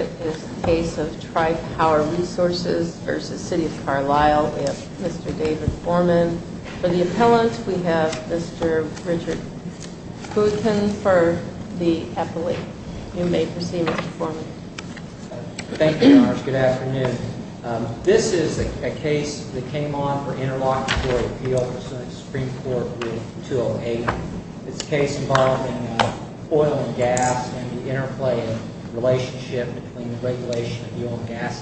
Tri-Power Resources, Inc. v. City of Carlyle, Illinois Richard Boutin, Appellate Interlocutory Appeal Richard Boutin, Appellate Richard Boutin, Appellate Richard Boutin, Appellate Richard Boutin, Appellate Richard Boutin, Appellate Richard Boutin, Appellate Richard Boutin, Appellate The Oil and Gas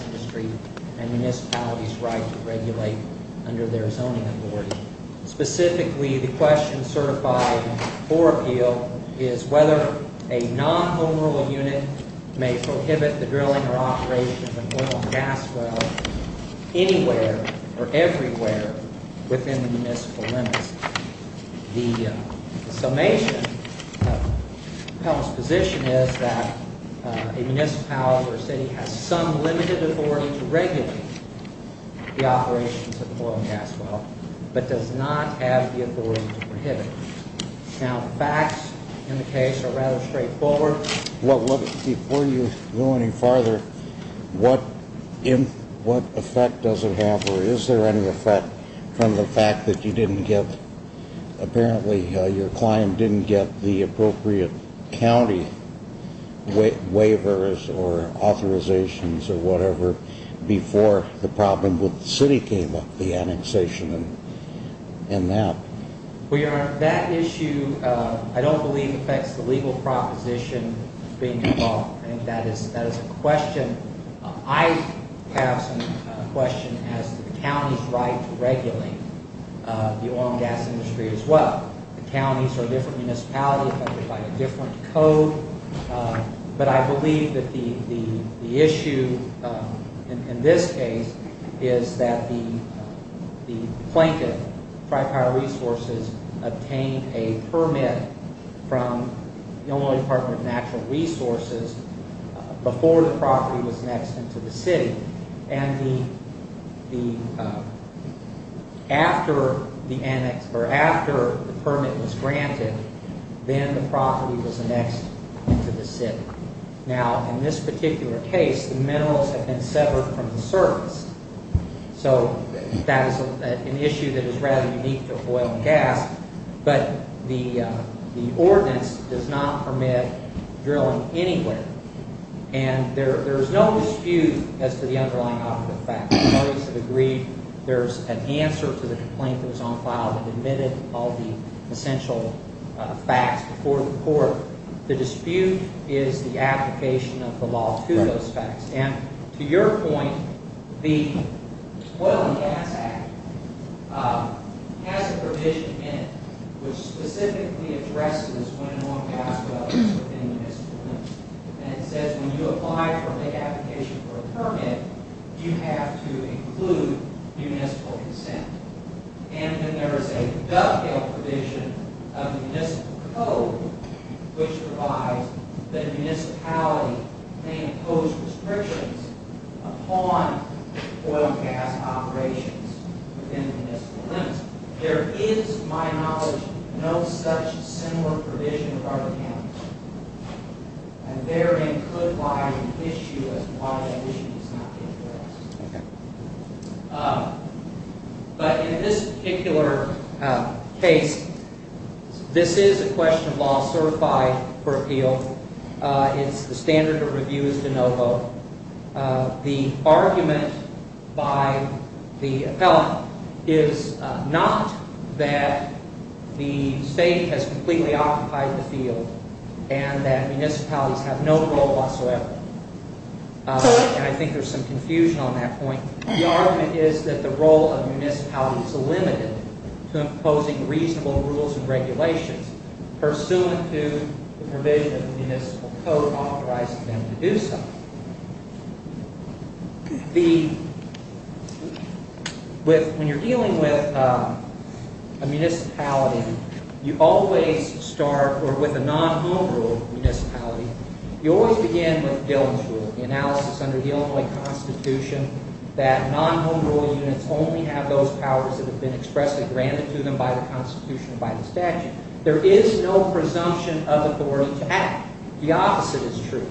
Act provides municipal license only. And there is a dovetail provision of the Municipal Code which provides that a municipality may impose restrictions upon oil and gas operations within the municipal limits. There is, to my knowledge, no such similar provision across the campus. And therein could lie an issue as to why that issue is not being addressed. But in this particular case, this is a question of law certified for appeal. It's the standard of review is de novo. The argument by the appellate is not that the state has completely occupied the field and that municipalities have no role whatsoever. And I think there's some confusion on that point. The argument is that the role of municipalities is limited to imposing reasonable rules and regulations pursuant to the provision of the Municipal Code authorizing them to do so. When you're dealing with a municipality, you always start, or with a non-home rule municipality, you always begin with Dillon's Rule, the analysis under the Illinois Constitution that non-home rule units only have those powers that have been expressly granted to them by the Constitution and by the statute. There is no presumption of authority to act. The opposite is true.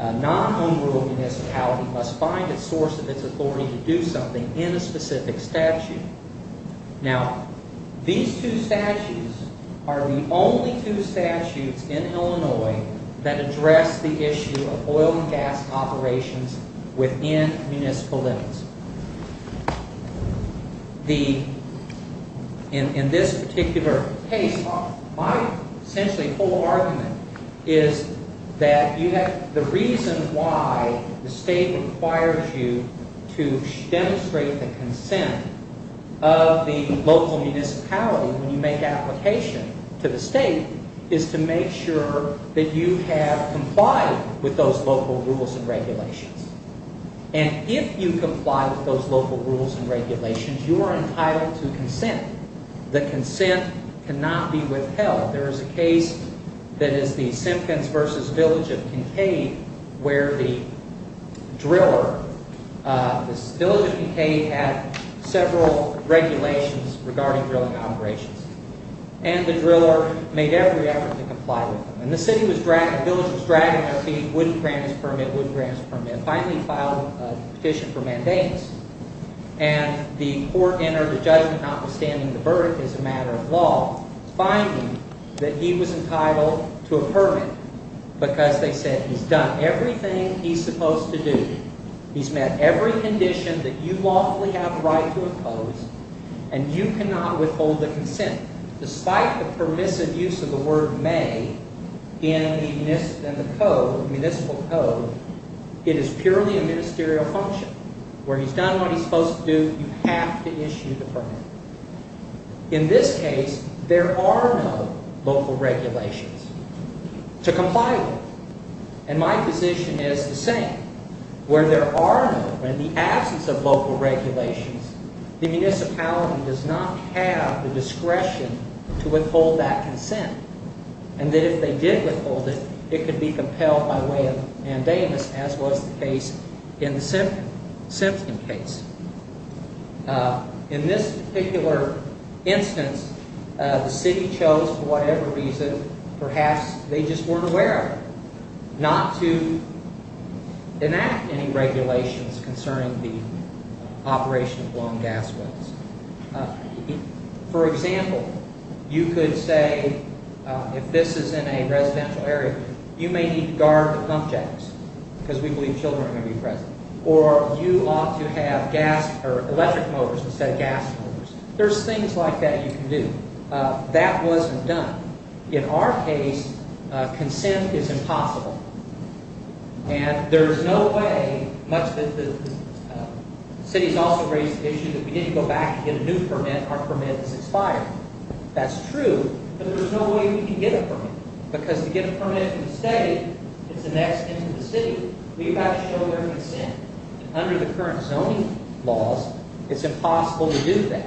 A non-home rule municipality must find a source of its authority to do something in a specific statute. Now, these two statutes are the only two statutes in Illinois that address the issue of oil and gas operations within municipal limits. In this particular case, my essentially whole argument is that the reason why the state requires you to demonstrate the consent of the local municipality when you make application to the state is to make sure that you have complied with those local rules and regulations. And if you comply with those local rules and regulations, you are entitled to consent. The consent cannot be withheld. There is a case that is the Simpkins v. Village of Kincaid where the driller, the Village of Kincaid had several regulations regarding drilling operations. And the driller made every effort to comply with them. And the city was dragged, the village was dragged out of the wood grants permit, wood grants permit, finally filed a petition for mandates. And the court entered a judgment notwithstanding the verdict is a matter of law. Finding that he was entitled to a permit because they said he's done everything he's supposed to do. He's met every condition that you lawfully have the right to impose. And you cannot withhold the consent. Despite the permissive use of the word may in the municipal code, it is purely a ministerial function. Where he's done what he's supposed to do, you have to issue the permit. In this case, there are no local regulations to comply with. And my position is the same. Where there are no, in the absence of local regulations, the municipality does not have the discretion to withhold that consent. And that if they did withhold it, it could be compelled by way of mandamus, as was the case in the Simpkins case. In this particular instance, the city chose for whatever reason, perhaps they just weren't aware of it, not to enact any regulations concerning the operation of long gas wells. For example, you could say, if this is in a residential area, you may need to guard the pump jacks because we believe children are going to be present. Or you ought to have electric motors instead of gas motors. There's things like that you can do. That wasn't done. In our case, consent is impossible. And there's no way, much that the city has also raised the issue that we didn't go back and get a new permit, our permit is expired. That's true, but there's no way we can get a permit. Because to get a permit from the state, it's the next thing to the city. We've got to show their consent. Under the current zoning laws, it's impossible to do that.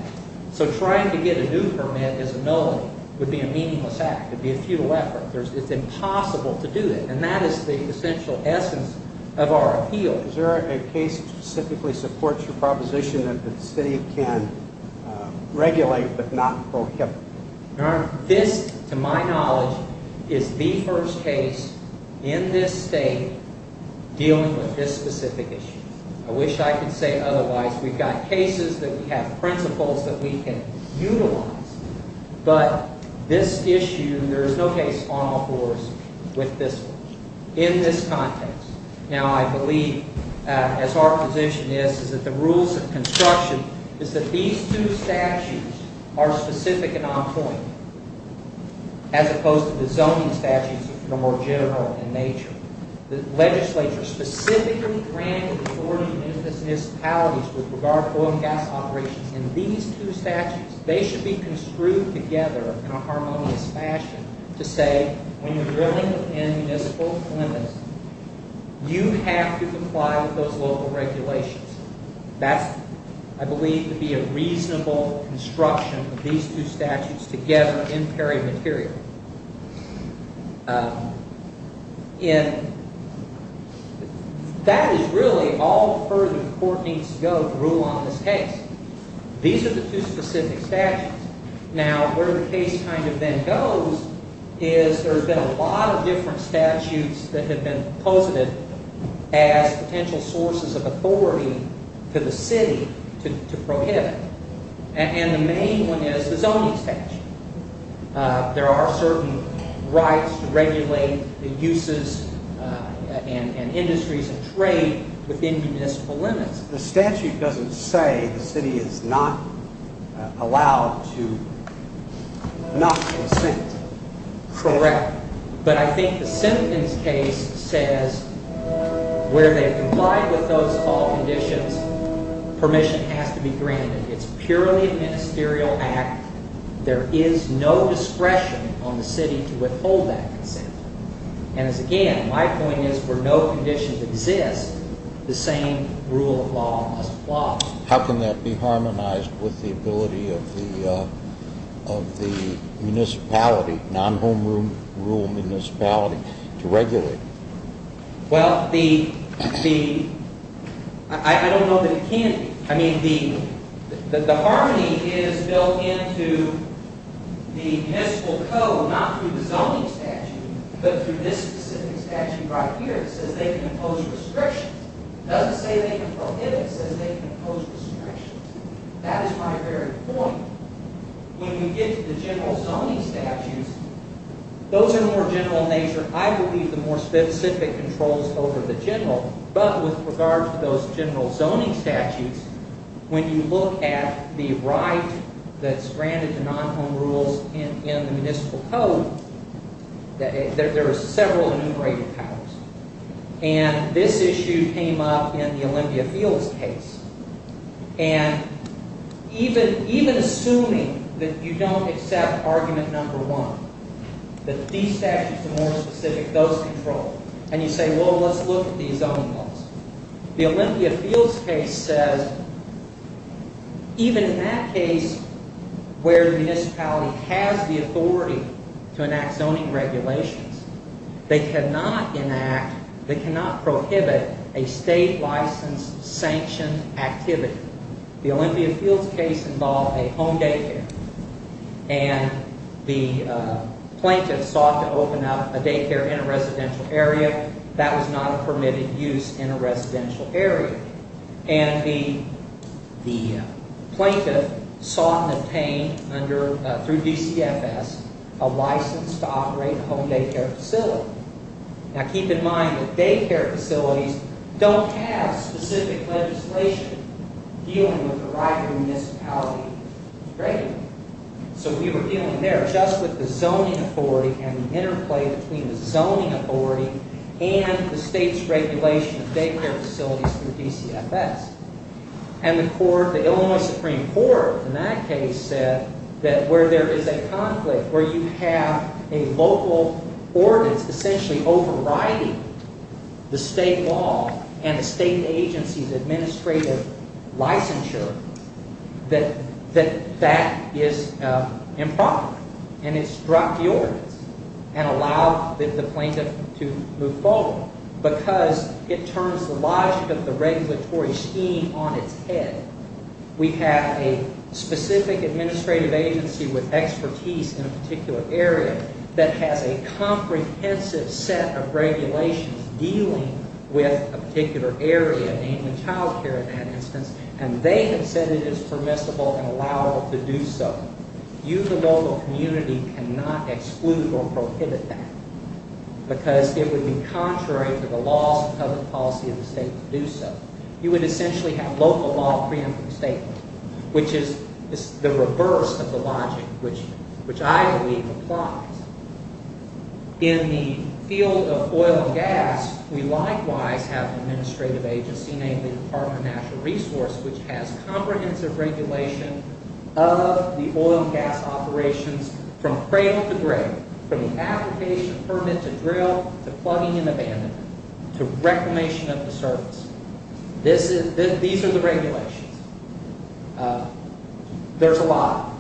So trying to get a new permit as a no would be a meaningless act. It would be a futile effort. It's impossible to do that. And that is the essential essence of our appeal. Is there a case that specifically supports your proposition that the city can regulate but not prohibit? This, to my knowledge, is the first case in this state dealing with this specific issue. I wish I could say otherwise. We've got cases that we have principles that we can utilize. But this issue, there is no case on all fours with this one. In this context. Now I believe, as our position is, is that the rules of construction is that these two statutes are specific and on point as opposed to the zoning statutes, which are more general in nature. The legislature specifically granted authority to municipalities with regard to oil and gas operations. And these two statutes, they should be construed together in a harmonious fashion to say, when you're drilling within municipal limits, you have to comply with those local regulations. That's, I believe, to be a reasonable construction of these two statutes together in perimaterial. That is really all the further the court needs to go to rule on this case. These are the two specific statutes. Now, where the case kind of then goes is there's been a lot of different statutes that have been posited as potential sources of authority to the city to prohibit. And the main one is the zoning statute. There are certain rights to regulate the uses and industries and trade within municipal limits. The statute doesn't say the city is not allowed to not consent. Correct. But I think the sentence case says where they've complied with those all conditions, permission has to be granted. It's purely a ministerial act. There is no discretion on the city to withhold that consent. And again, my point is where no conditions exist, the same rule of law must apply. How can that be harmonized with the ability of the municipality, non-home rule municipality, to regulate? Well, I don't know that it can be. I mean, the harmony is built into the municipal code, not through the zoning statute, but through this specific statute right here that says they can impose restrictions. It doesn't say they can prohibit. It says they can impose restrictions. That is my very point. When you get to the general zoning statutes, those are more general in nature. I believe the more specific controls over the general, but with regard to those general zoning statutes, when you look at the right that's granted to non-home rules in the municipal code, there are several enumerated powers. And this issue came up in the Olympia Fields case. And even assuming that you don't accept argument number one, that these statutes are more specific, those control, and you say, well, let's look at these zoning laws. The Olympia Fields case says even in that case where the municipality has the authority to enact zoning regulations, they cannot enact, they cannot prohibit a state-licensed sanctioned activity. The Olympia Fields case involved a home daycare, and the plaintiff sought to open up a daycare in a residential area. That was not a permitted use in a residential area. And the plaintiff sought and obtained through DCFS a license to operate a home daycare facility. Now keep in mind that daycare facilities don't have specific legislation dealing with the right of the municipality to regulate. So we were dealing there just with the zoning authority and the interplay between the zoning authority and the state's regulation of daycare facilities through DCFS. And the Illinois Supreme Court in that case said that where there is a conflict, where you have a local ordinance essentially overriding the state law and the state agency's administrative licensure, that that is improper. And it's dropped the ordinance and allowed the plaintiff to move forward because it turns the logic of the regulatory scheme on its head. We have a specific administrative agency with expertise in a particular area that has a comprehensive set of regulations dealing with a particular area, mainly child care in that instance, and they have said it is permissible and allowable to do so. You, the local community, cannot exclude or prohibit that because it would be contrary to the laws and public policy of the state to do so. You would essentially have local law preempting the state, which is the reverse of the logic, which I believe applies. In the field of oil and gas, we likewise have an administrative agency named the Department of Natural Resource, which has comprehensive regulation of the oil and gas operations from cradle to grave, from the application of permit to drill to plugging and abandonment to reclamation of the surface. These are the regulations. There's a lot.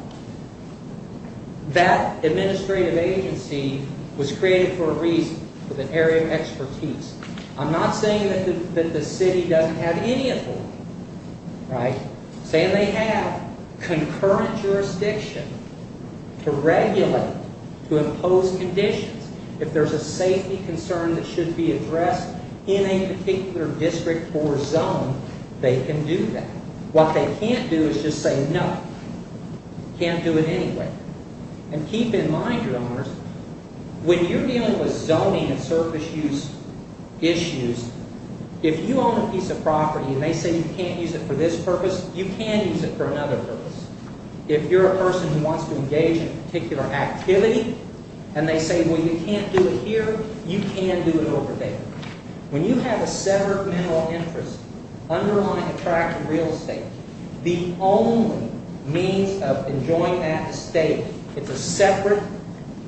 That administrative agency was created for a reason, with an area of expertise. I'm not saying that the city doesn't have any authority. I'm saying they have concurrent jurisdiction to regulate, to impose conditions. If there's a safety concern that should be addressed in a particular district or zone, they can do that. What they can't do is just say, no, can't do it anyway. Keep in mind, your owners, when you're dealing with zoning and surface use issues, if you own a piece of property and they say you can't use it for this purpose, you can use it for another purpose. If you're a person who wants to engage in a particular activity and they say, well, you can't do it here, you can do it over there. When you have a separate mineral interest underlying a tract of real estate, the only means of enjoying that estate, it's a separate,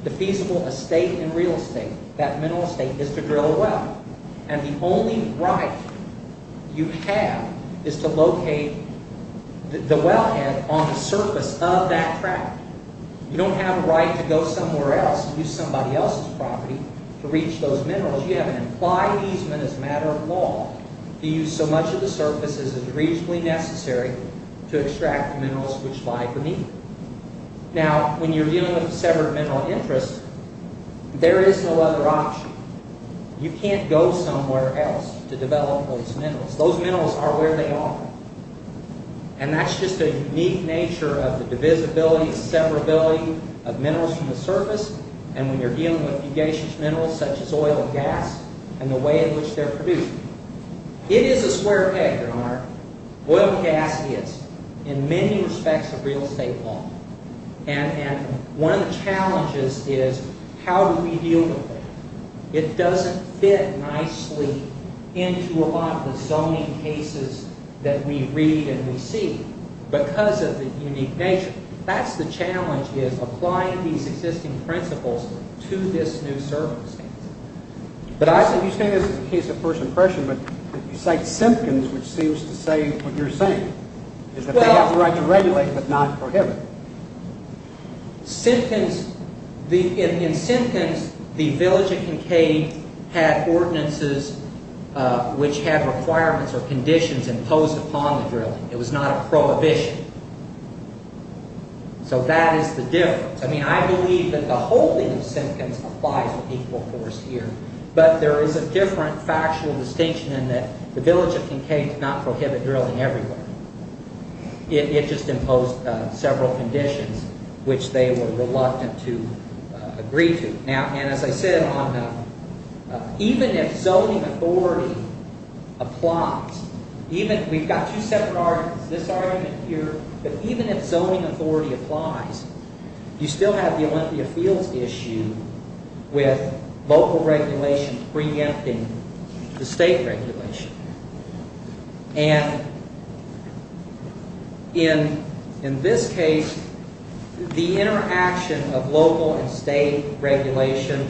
defeasible estate in real estate, that mineral estate, is to drill a well. And the only right you have is to locate the wellhead on the surface of that tract. You don't have a right to go somewhere else and use somebody else's property to reach those minerals. You have an implied easement as a matter of law to use so much of the surface as is reasonably necessary to extract the minerals which lie beneath it. Now, when you're dealing with a separate mineral interest, there is no other option. You can't go somewhere else to develop those minerals. Those minerals are where they are. And that's just a unique nature of the divisibility and severability of minerals from the surface. And when you're dealing with fugacious minerals such as oil and gas, and the way in which they're produced, it is a square peg, Your Honor. Oil and gas is, in many respects, a real estate law. And one of the challenges is, how do we deal with that? It doesn't fit nicely into a lot of the zoning cases that we read and we see because of the unique nature. That's the challenge, is applying these existing principles to this new surface. But you say this is a case of first impression, but you cite Simpkins, which seems to say what you're saying, is that they have the right to regulate but not prohibit. Simpkins... In Simpkins, the village at Kincaid had ordinances which had requirements or conditions imposed upon the drilling. It was not a prohibition. So that is the difference. I believe that the holding of Simpkins applies with equal force here, but there is a different factual distinction in that the village at Kincaid did not prohibit drilling everywhere. It just imposed several conditions which they were reluctant to agree to. And as I said, even if zoning authority applies, we've got two separate arguments, this argument here, but even if zoning authority applies, you still have the Olympia Fields issue with local regulation preempting the state regulation. In this case, the interaction of local and state regulation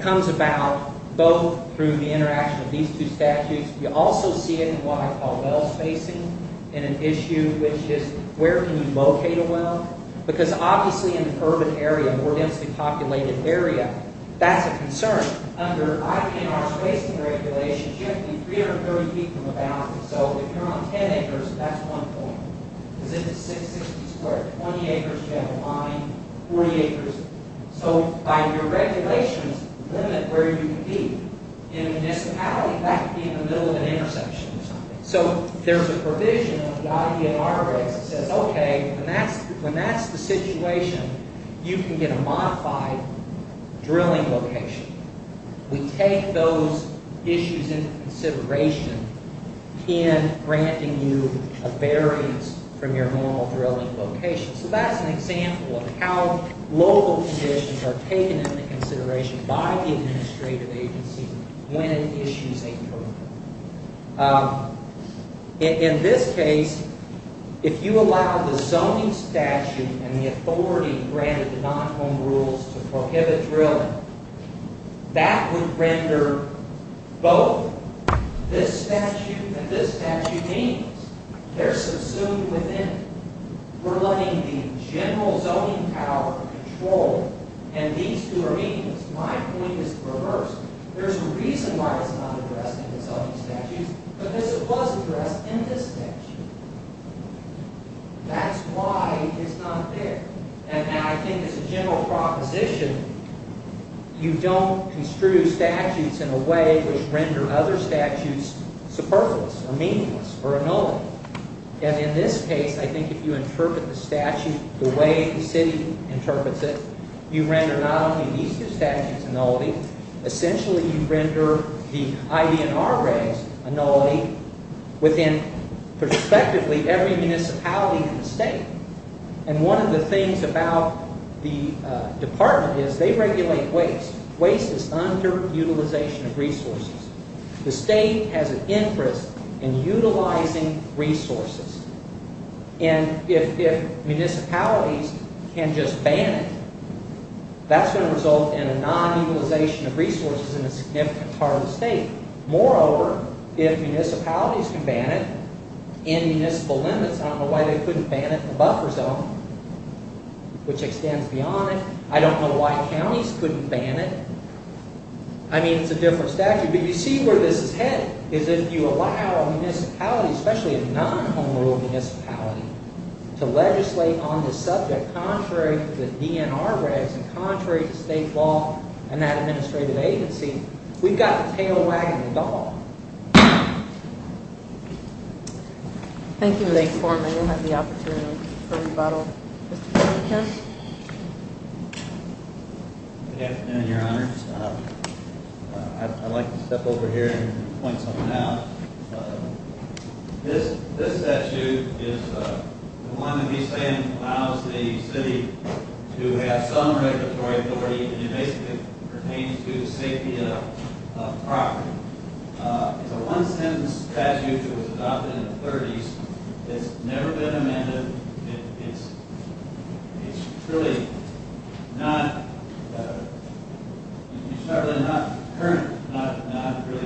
comes about both through the interaction of these two statutes. You also see it in what I call well spacing, in an issue which is where can you locate a well? Because obviously in an urban area, a more densely populated area, that's a concern. Under IP&R spacing regulations, you have to be 330 feet from the boundary. So if you're on 10 acres, that's one point. Because if it's 660 square, 20 acres, you have a line, 40 acres. So by your regulations, limit where you can be. In a municipality, that would be in the middle of an intersection or something. So there's a provision of the IP&R race that says, okay, when that's the situation, you can get a modified drilling location. We take those issues into consideration in granting you a variance from your normal drilling location. So that's an example of how local conditions are taken into consideration by the administrative agency when it issues a program. In this case, if you allow the zoning statute and the authority granted to non-home rules to prohibit drilling, that would render both this statute and this statute meaningless. They're subsumed within it. We're letting the general zoning power control it, and these two are meaningless. My point is reversed. There's a reason why it's not addressed in the zoning statutes, but this was addressed in this statute. That's why it's not there. And I think as a general proposition, you don't construe statutes in a way which render other statutes superfluous or meaningless or annullable. And in this case, I think if you interpret the statute the way the city interprets it, you render not only these two statutes annullable, essentially you render the ID&R grades annullable within, prospectively, every municipality in the state. And one of the things about the department is they regulate waste. Waste is underutilization of resources. The state has an interest in utilizing resources. And if municipalities can just ban it, that's going to result in a non-utilization of resources in a significant part of the state. Moreover, if municipalities can ban it in municipal limits, I don't know why they couldn't ban it in the buffer zone, which extends beyond it. I don't know why counties couldn't ban it. I mean, it's a different statute. But you see where this is headed, is if you allow a municipality, especially a non-home rule municipality, to legislate on the subject contrary to the DNR regs and contrary to state law and that administrative agency, we've got the tail wagging the dog. Thank you. Thank you for the opportunity for rebuttal. Good afternoon, Your Honor. I'd like to step over here and point something out. This statute is the one that we say allows the city to have some regulatory authority, and it basically pertains to the safety of property. It's a one-sentence statute that was adopted in the 30s. It's never been amended. It's really not currently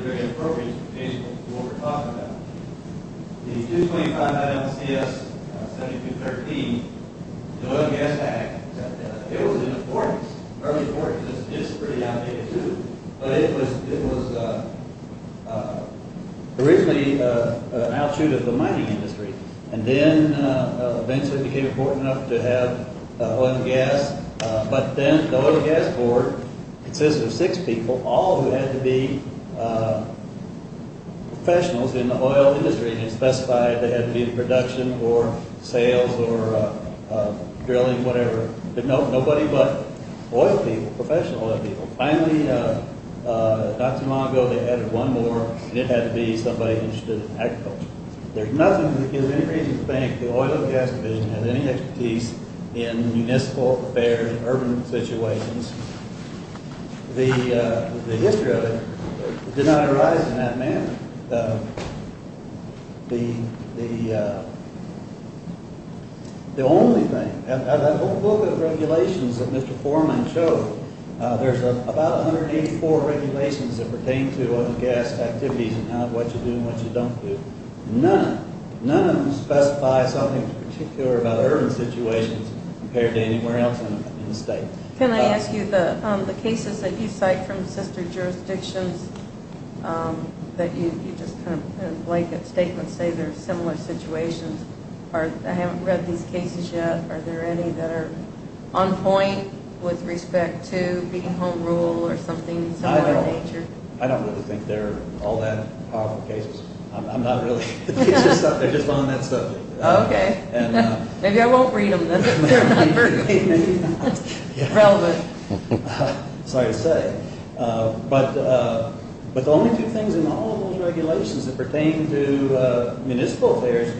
very appropriate to what we're talking about. The 225-9 MCS 7213, the Oil and Gas Act, it was in the 40s, early 40s. It's pretty outdated, too. But it was originally an outshoot of the mining industry. And then eventually it became important enough to have oil and gas, but then the Oil and Gas Board consisted of six people, all who had to be professionals in the oil industry, and it specified they had to be in production or sales or drilling, whatever, but nobody but oil people, professional oil people. Finally, not too long ago, they added one more, and it had to be somebody interested in agriculture. There's nothing, in any region of the bank, the Oil and Gas Division has any expertise in municipal affairs, urban situations. The history of it did not arise in that manner. The only thing, that whole book of regulations that Mr. Foreman showed, there's about 184 regulations that pertain to oil and gas activities and what you do and what you don't do. None of them specify something particular about urban situations compared to anywhere else in the state. Can I ask you, the cases that you cite from sister jurisdictions that you just kind of blanket statements say they're similar situations. I haven't read these cases yet. Are there any that are on point with respect to being home rule or something similar in nature? I don't really think they're all that powerful cases. I'm not really. They're just on that subject. Okay. Maybe I won't read them then. They're not very relevant. Sorry to say. But the only two things in all those regulations that pertain to municipal affairs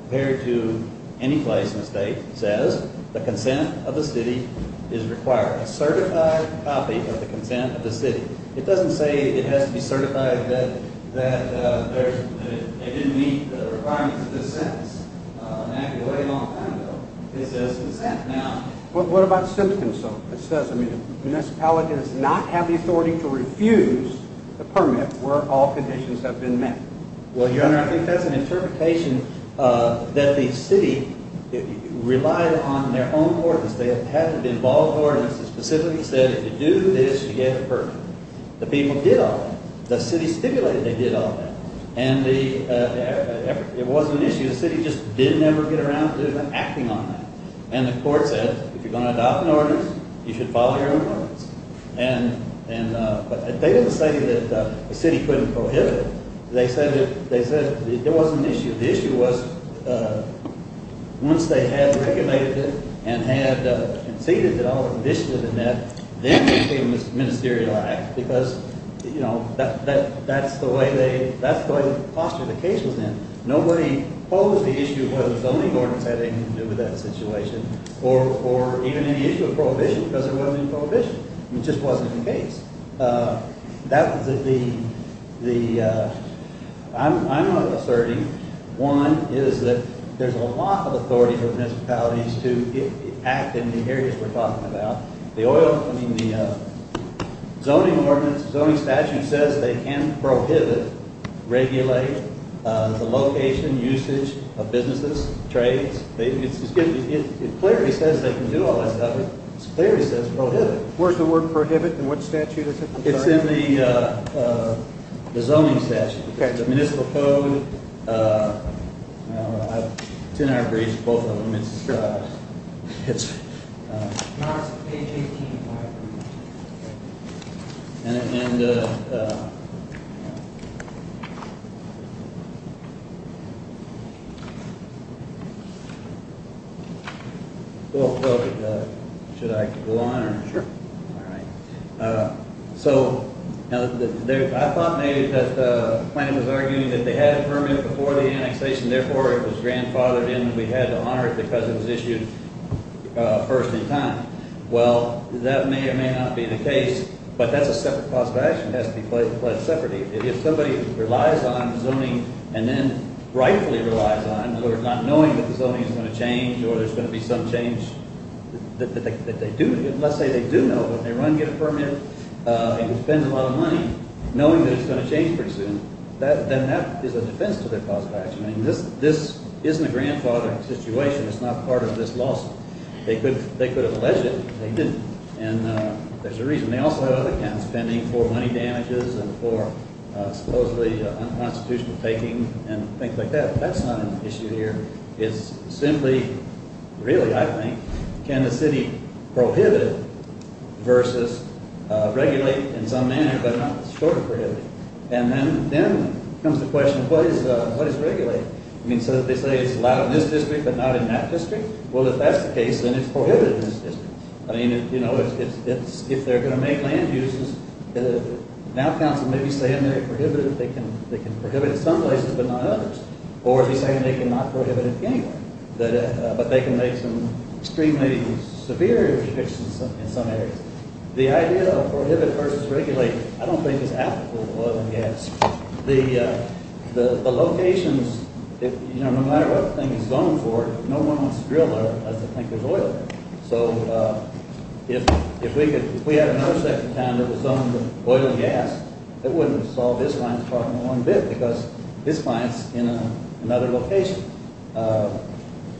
compared to any place in the state says the consent of the city is required. A certified copy of the consent of the city. It doesn't say it has to be certified that it didn't meet the requirements of this sentence. It's been a long time ago. What about the sentence? It says the municipality does not have the authority to refuse the permit where all conditions have been met. Well, your honor, I think that's an interpretation that the city relied on their own ordinance. They had to be involved in the ordinance that specifically said if you do this, you get a permit. The people did all that. The city stipulated they did all that. And the it wasn't an issue. The city just didn't ever get around to acting on that. And the court said if you're going to adopt an ordinance, you should follow your own ordinance. But they didn't say that the city couldn't prohibit it. They said it wasn't an issue. The issue was once they had regulated it and had conceded that all conditions had been met, then they became ministerialized because that's the way that's the posture the case was in. Nobody posed the issue whether zoning ordinance had anything to do with that situation or even any issue of prohibition because there wasn't any prohibition. It just wasn't the case. That was the the I'm not asserting. One is that there's a lot of authority for municipalities to act in the areas we're talking about. The oil, I mean the zoning ordinance, zoning statute says they can prohibit regulate the location, usage of businesses, trades. It clearly says they can do all that stuff. It clearly says prohibit. Where's the word prohibit and what statute is it? It's in the zoning statute. It's in the municipal code. It's in our briefs, both of them. It's Should I go on? Sure. So I thought maybe that the plan was arguing that they had a permit before the annexation, therefore it was grandfathered in and we had to honor it because it was issued first in time. Well, that may or may not be the case, but that's a separate cause of action. It has to be pledged separately. If somebody relies on zoning and then rightfully relies on, not knowing that the zoning is going to change or there's going to be some change that they do, let's say they do know, but they run and get a permit and it spends a lot of money knowing that it's going to change pretty soon, then that is a defense to their cause of action. I mean, this isn't a grandfathering situation. It's not part of this lawsuit. They could have alleged it, but they didn't. There's a reason. They also have other accounts pending for money damages and for supposedly unconstitutional taking and things like that. That's not an issue here. It's simply, really, I think, can the city prohibit it versus regulate it in some manner, but not strictly prohibit it. And then comes the question, what is regulate? So they say it's allowed in this district, but not in that district? Well, if that's the case, then it's prohibited in this district. If they're going to make land uses, now counsel may be saying they're prohibited. They can prohibit in some places, but not others. Or they're saying they cannot prohibit it anywhere, but they can make some extremely severe restrictions in some areas. The idea of prohibit versus regulate, I don't think it's applicable to oil and gas. The locations, no matter what the thing is zoned for, no one wants to drill there unless they think there's oil there. If we had another section of town that was zoned for oil and gas, that wouldn't have solved this client's problem in one bit, because this client's in another location.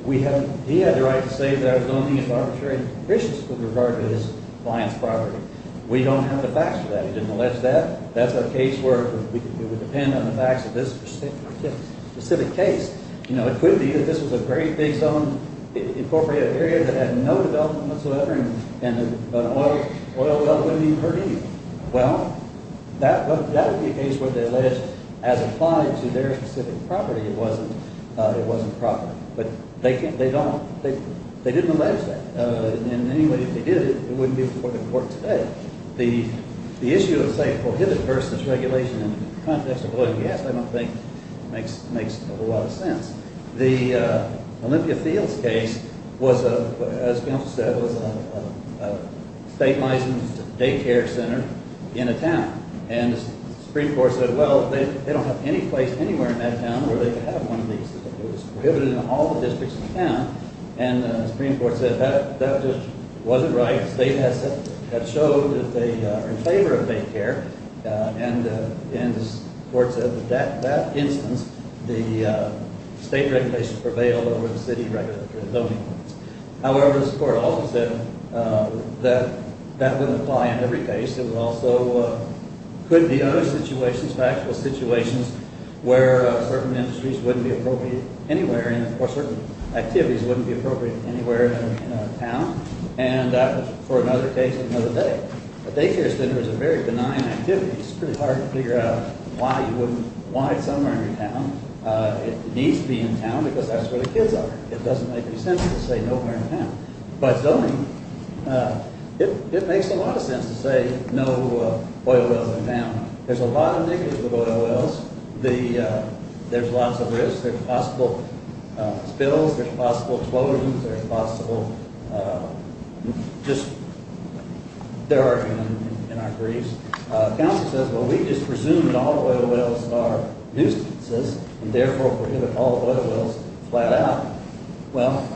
He had the right to say that zoning is arbitrary and vicious with regard to his client's property. We don't have the facts for that. He didn't allege that. That's a case where it would depend on the facts of this specific case. It could be that this was a very big zone, incorporated area that had no development whatsoever and an oil well wouldn't even hurt anyone. Well, that would be a case where they allege, as applied to their specific property, it wasn't proper. But they didn't allege that. And anyway, if they did, it wouldn't be before the court today. The issue of, say, prohibited person's regulation in the context of oil and gas, I don't think, makes a whole lot of sense. The Olympia Fields case was, as we also said, was a state-licensed daycare center in a town. And the Supreme Court said, well, they don't have any place anywhere in that town where they could have one of these. It was prohibited in all the districts of the town. And the Supreme Court said, that just wasn't right. The state had showed that they were in favor of daycare. And the court said that that instance, the state regulation prevailed over the city zoning. However, the Supreme Court also said that that wouldn't apply in every case. It also could be other situations, factual situations, where certain industries wouldn't be appropriate anywhere or certain activities wouldn't be appropriate anywhere in a town. And for another case, another day. A daycare center is a very benign activity. It's pretty hard to figure out why it's somewhere in your town. It needs to be in town because that's where the kids are. It doesn't make any sense to say nowhere in town. But zoning, it makes a lot of sense to say no oil wells in town. There's a lot of negatives with oil wells. There's lots of risks. There's possible spills. There's possible explosions. There's possible just there are in our briefs. Counsel says, well, we just presume that all oil wells are nuisances and therefore prohibit all oil wells flat out. Well,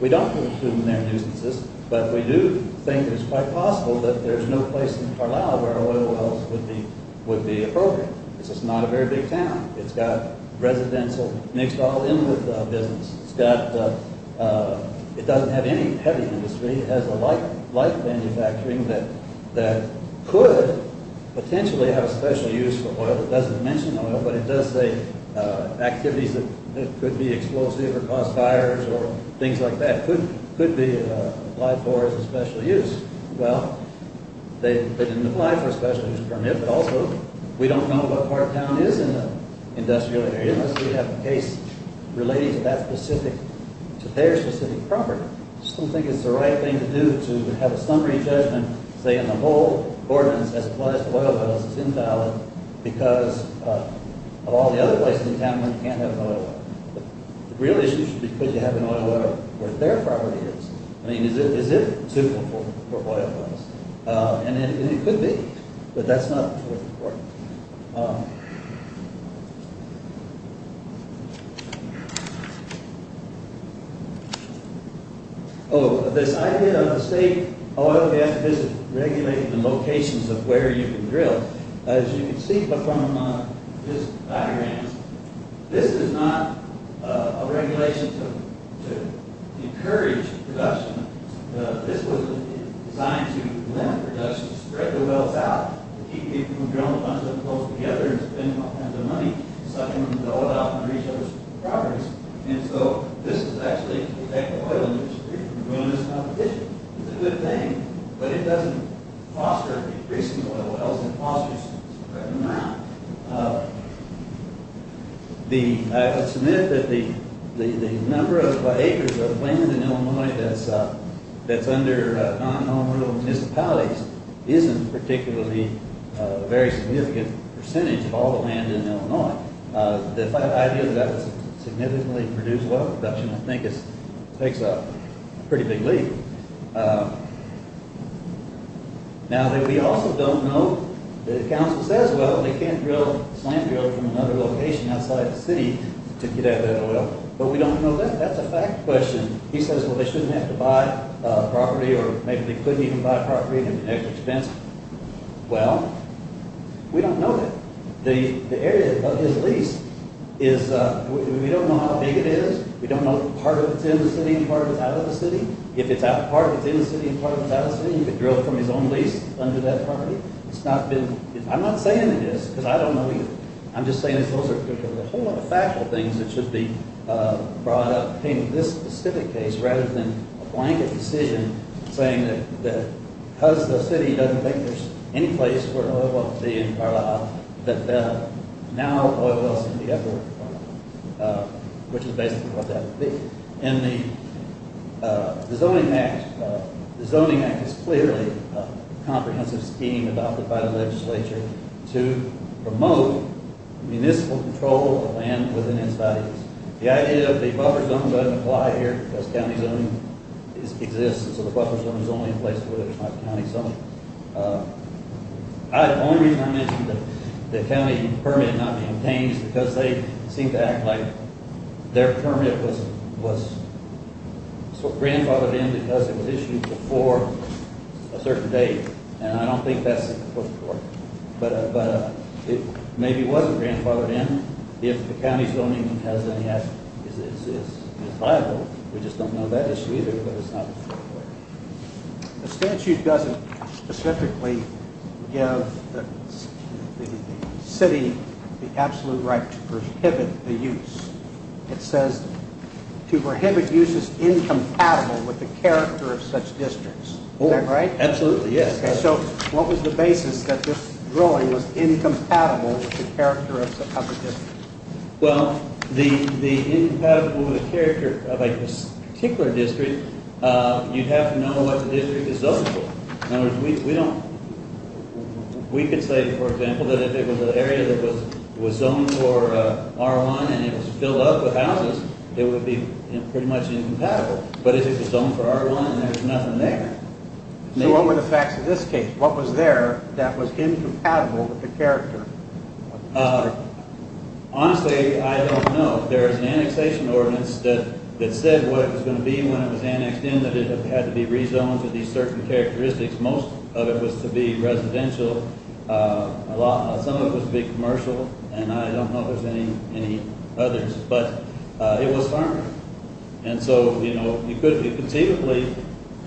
we don't presume they're nuisances, but we do think it's quite possible that there's no place in Carlisle where oil wells would be appropriate. This is not a very big town. It's got residential mixed all in with business. It's got it doesn't have any heavy industry. It has a light manufacturing that could potentially have a special use for oil. It doesn't mention oil, but it does say activities that could be explosive or cause fires or things like that could be applied for as a special use. Well, they didn't apply for a special use permit, but also, we don't know what part of town is in the industrial area unless we have a case relating to that specific, to their specific property. I just don't think it's the right thing to do to have a summary judgment saying the whole ordinance as applies to oil wells is invalid because of all the other places in town where you can't have an oil well. The real issue should be could you have an oil well where their property is? I mean, is it suitable for oil wells? And it could be, but that's not what's important. Oh, this idea of the state oil and gas regulations and locations of where you can drill. As you can see from this diagram, this is not a regulation to encourage production. This was designed to limit production, spread the wells out, keep people from drilling a bunch of them close together and spend all kinds of money sucking them all out and reach those properties. And so, this is actually to protect the oil industry from ruinous competition. It's a good thing, but it doesn't foster decreasing oil wells, it fosters spreading them out. I would submit that the number of acres of land in other non-nominal municipalities isn't particularly a very significant percentage of all the land in Illinois. The idea that that would significantly reduce well production, I think, takes a pretty big leap. Now, that we also don't know, the council says, well, they can't drill, slam drill from another location outside the city to get at that oil, but we don't know that. That's a fact question. He says, well, they shouldn't have to buy property or maybe they couldn't even buy property at the next expense. Well, we don't know that. The area of his lease is, we don't know how big it is, we don't know part of it's in the city and part of it's out of the city. If part of it's in the city and part of it's out of the city, he could drill from his own lease under that property. It's not been, I'm not saying it is, because I don't know either. I'm just saying those are a whole lot of factual things that should be brought up in this specific case rather than a blanket decision saying that because the city doesn't think there's any place where an oil well could be in Carlisle, that now oil wells can be everywhere in Carlisle, which is basically what that would be. And the zoning act is clearly a comprehensive scheme adopted by the legislature to promote municipal control of the land within its values. The idea of the buffer zone doesn't apply here because the county zone exists and so the buffer zone is only in place where there's not a county zone. The only reason I mentioned the county permit not being changed is because they seem to act like their permit was sort of grandfathered in because it was issued before a certain date. And I don't think that's the case. But maybe it wasn't grandfathered in if the county zoning has any... is viable. We just don't know that issue either, but it's not... The statute doesn't specifically give the city the absolute right to prohibit the use. It says to prohibit use is incompatible with the character of such districts. Is that right? Absolutely, yes. So what was the basis that this drawing was incompatible with the character of the district? Well, the incompatible with the character of a particular district, you'd have to know what the district is zoned for. We don't... We could say, for example, that if it was an area that was zoned for R1 and it was filled up with houses, it would be pretty much incompatible. But if it was zoned for R1 and there's nothing there... So what were the facts of this case? What was there that was incompatible with the character? Honestly, I don't know. There's an annexation ordinance that said what it was going to be when it was annexed in, that it had to be rezoned to these certain characteristics. Most of it was to be residential. Some of it was to be commercial, and I don't know if there's any others. But it was farming. And so, you know, you could conceivably...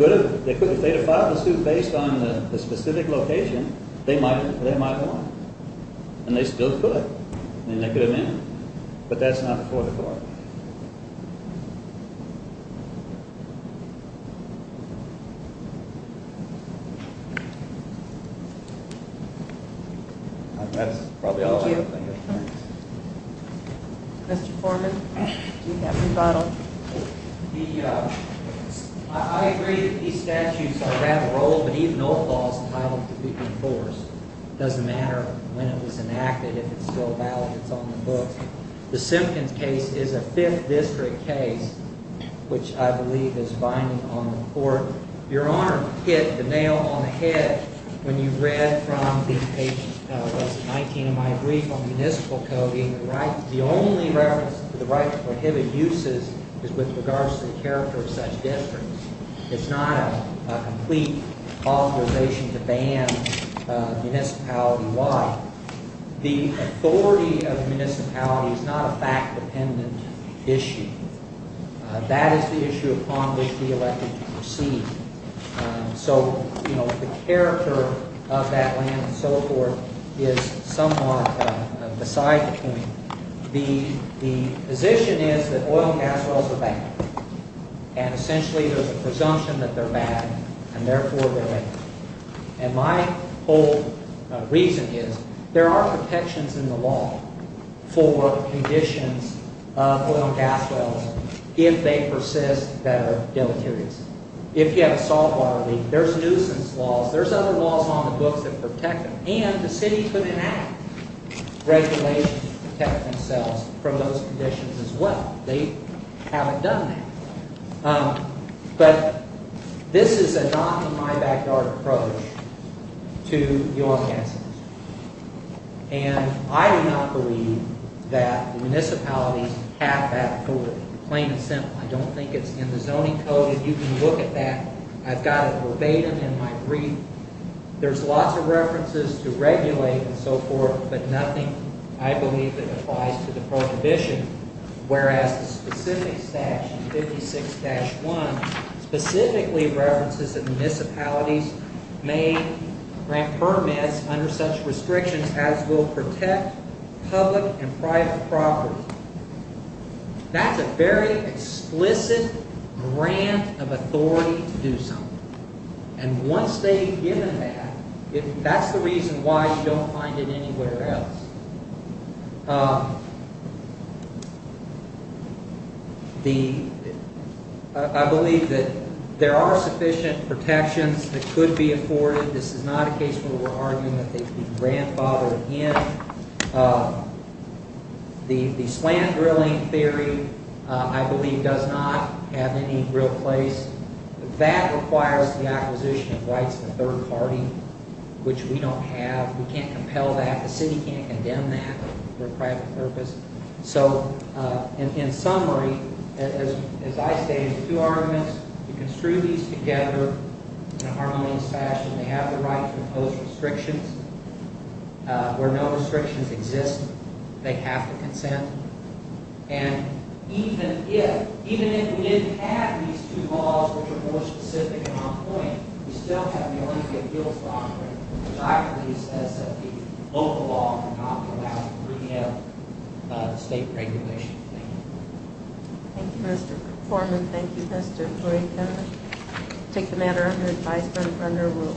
If they had filed the suit based on the specific location, they might have won. And they still could. But that's not before the court. That's probably all I can think of. Mr. Foreman? Do you have a rebuttal? I agree that these statutes are rather old, but even old laws allow them to be enforced. It doesn't matter when it was enacted, if it's still valid, it's on the books. The Simpkins case is a 5th district case, which I believe is binding on the court. Your Honor hit the nail on the head when you read from page 19 of my brief on municipal coding that the only reference to the right to prohibit uses is with regards to the character of such districts. It's not a complete authorization to ban municipality-wide. The authority of the municipality is not a fact-dependent issue. That is the issue upon which we elected to proceed. So, you know, the character of that land and so forth is somewhat beside the point. The position is that oil and gas wells are bad, and essentially there's a presumption that they're bad, and therefore they're bad. And my whole reason is there are protections in the law for conditions of oil and gas wells if they persist that are deleterious. If you have a salt water leak, there's nuisance laws, there's other laws on the books that protect them, and the city put in act regulations to protect themselves from those conditions as well. They haven't done that. But this is a not-in-my-backyard approach to oil and gas wells. And I do not believe that municipalities have bad coding, plain and simple. I don't think it's in the zoning code. If you can look at that, I've got it verbatim in my brief. There's lots of references to regulate and so forth, but nothing I believe that applies to the prohibition, whereas the specific statute, 56-1, specifically references that municipalities may grant permits under such restrictions as will protect public and private property. That's a very explicit grant of authority to do something. And once they've given that, that's the reason why you don't find it anywhere else. I believe that there are sufficient protections that could be afforded. This is not a case where we're arguing that they could be grandfathered in. The slant drilling theory, I believe, does not have any real place. That requires the acquisition of rights of the third party, which we don't have. We can't compel that. The city can't condemn that for a private purpose. So, in summary, as I stated in two arguments, you can screw these together in a harmonious fashion. They have the right to impose restrictions. Where no restrictions exist, they have to consent. And even if we didn't have these two laws, which are more specific and on point, we still have the only thing that deals with offering, which I believe is that the local law would not allow the 3M state regulation. Thank you.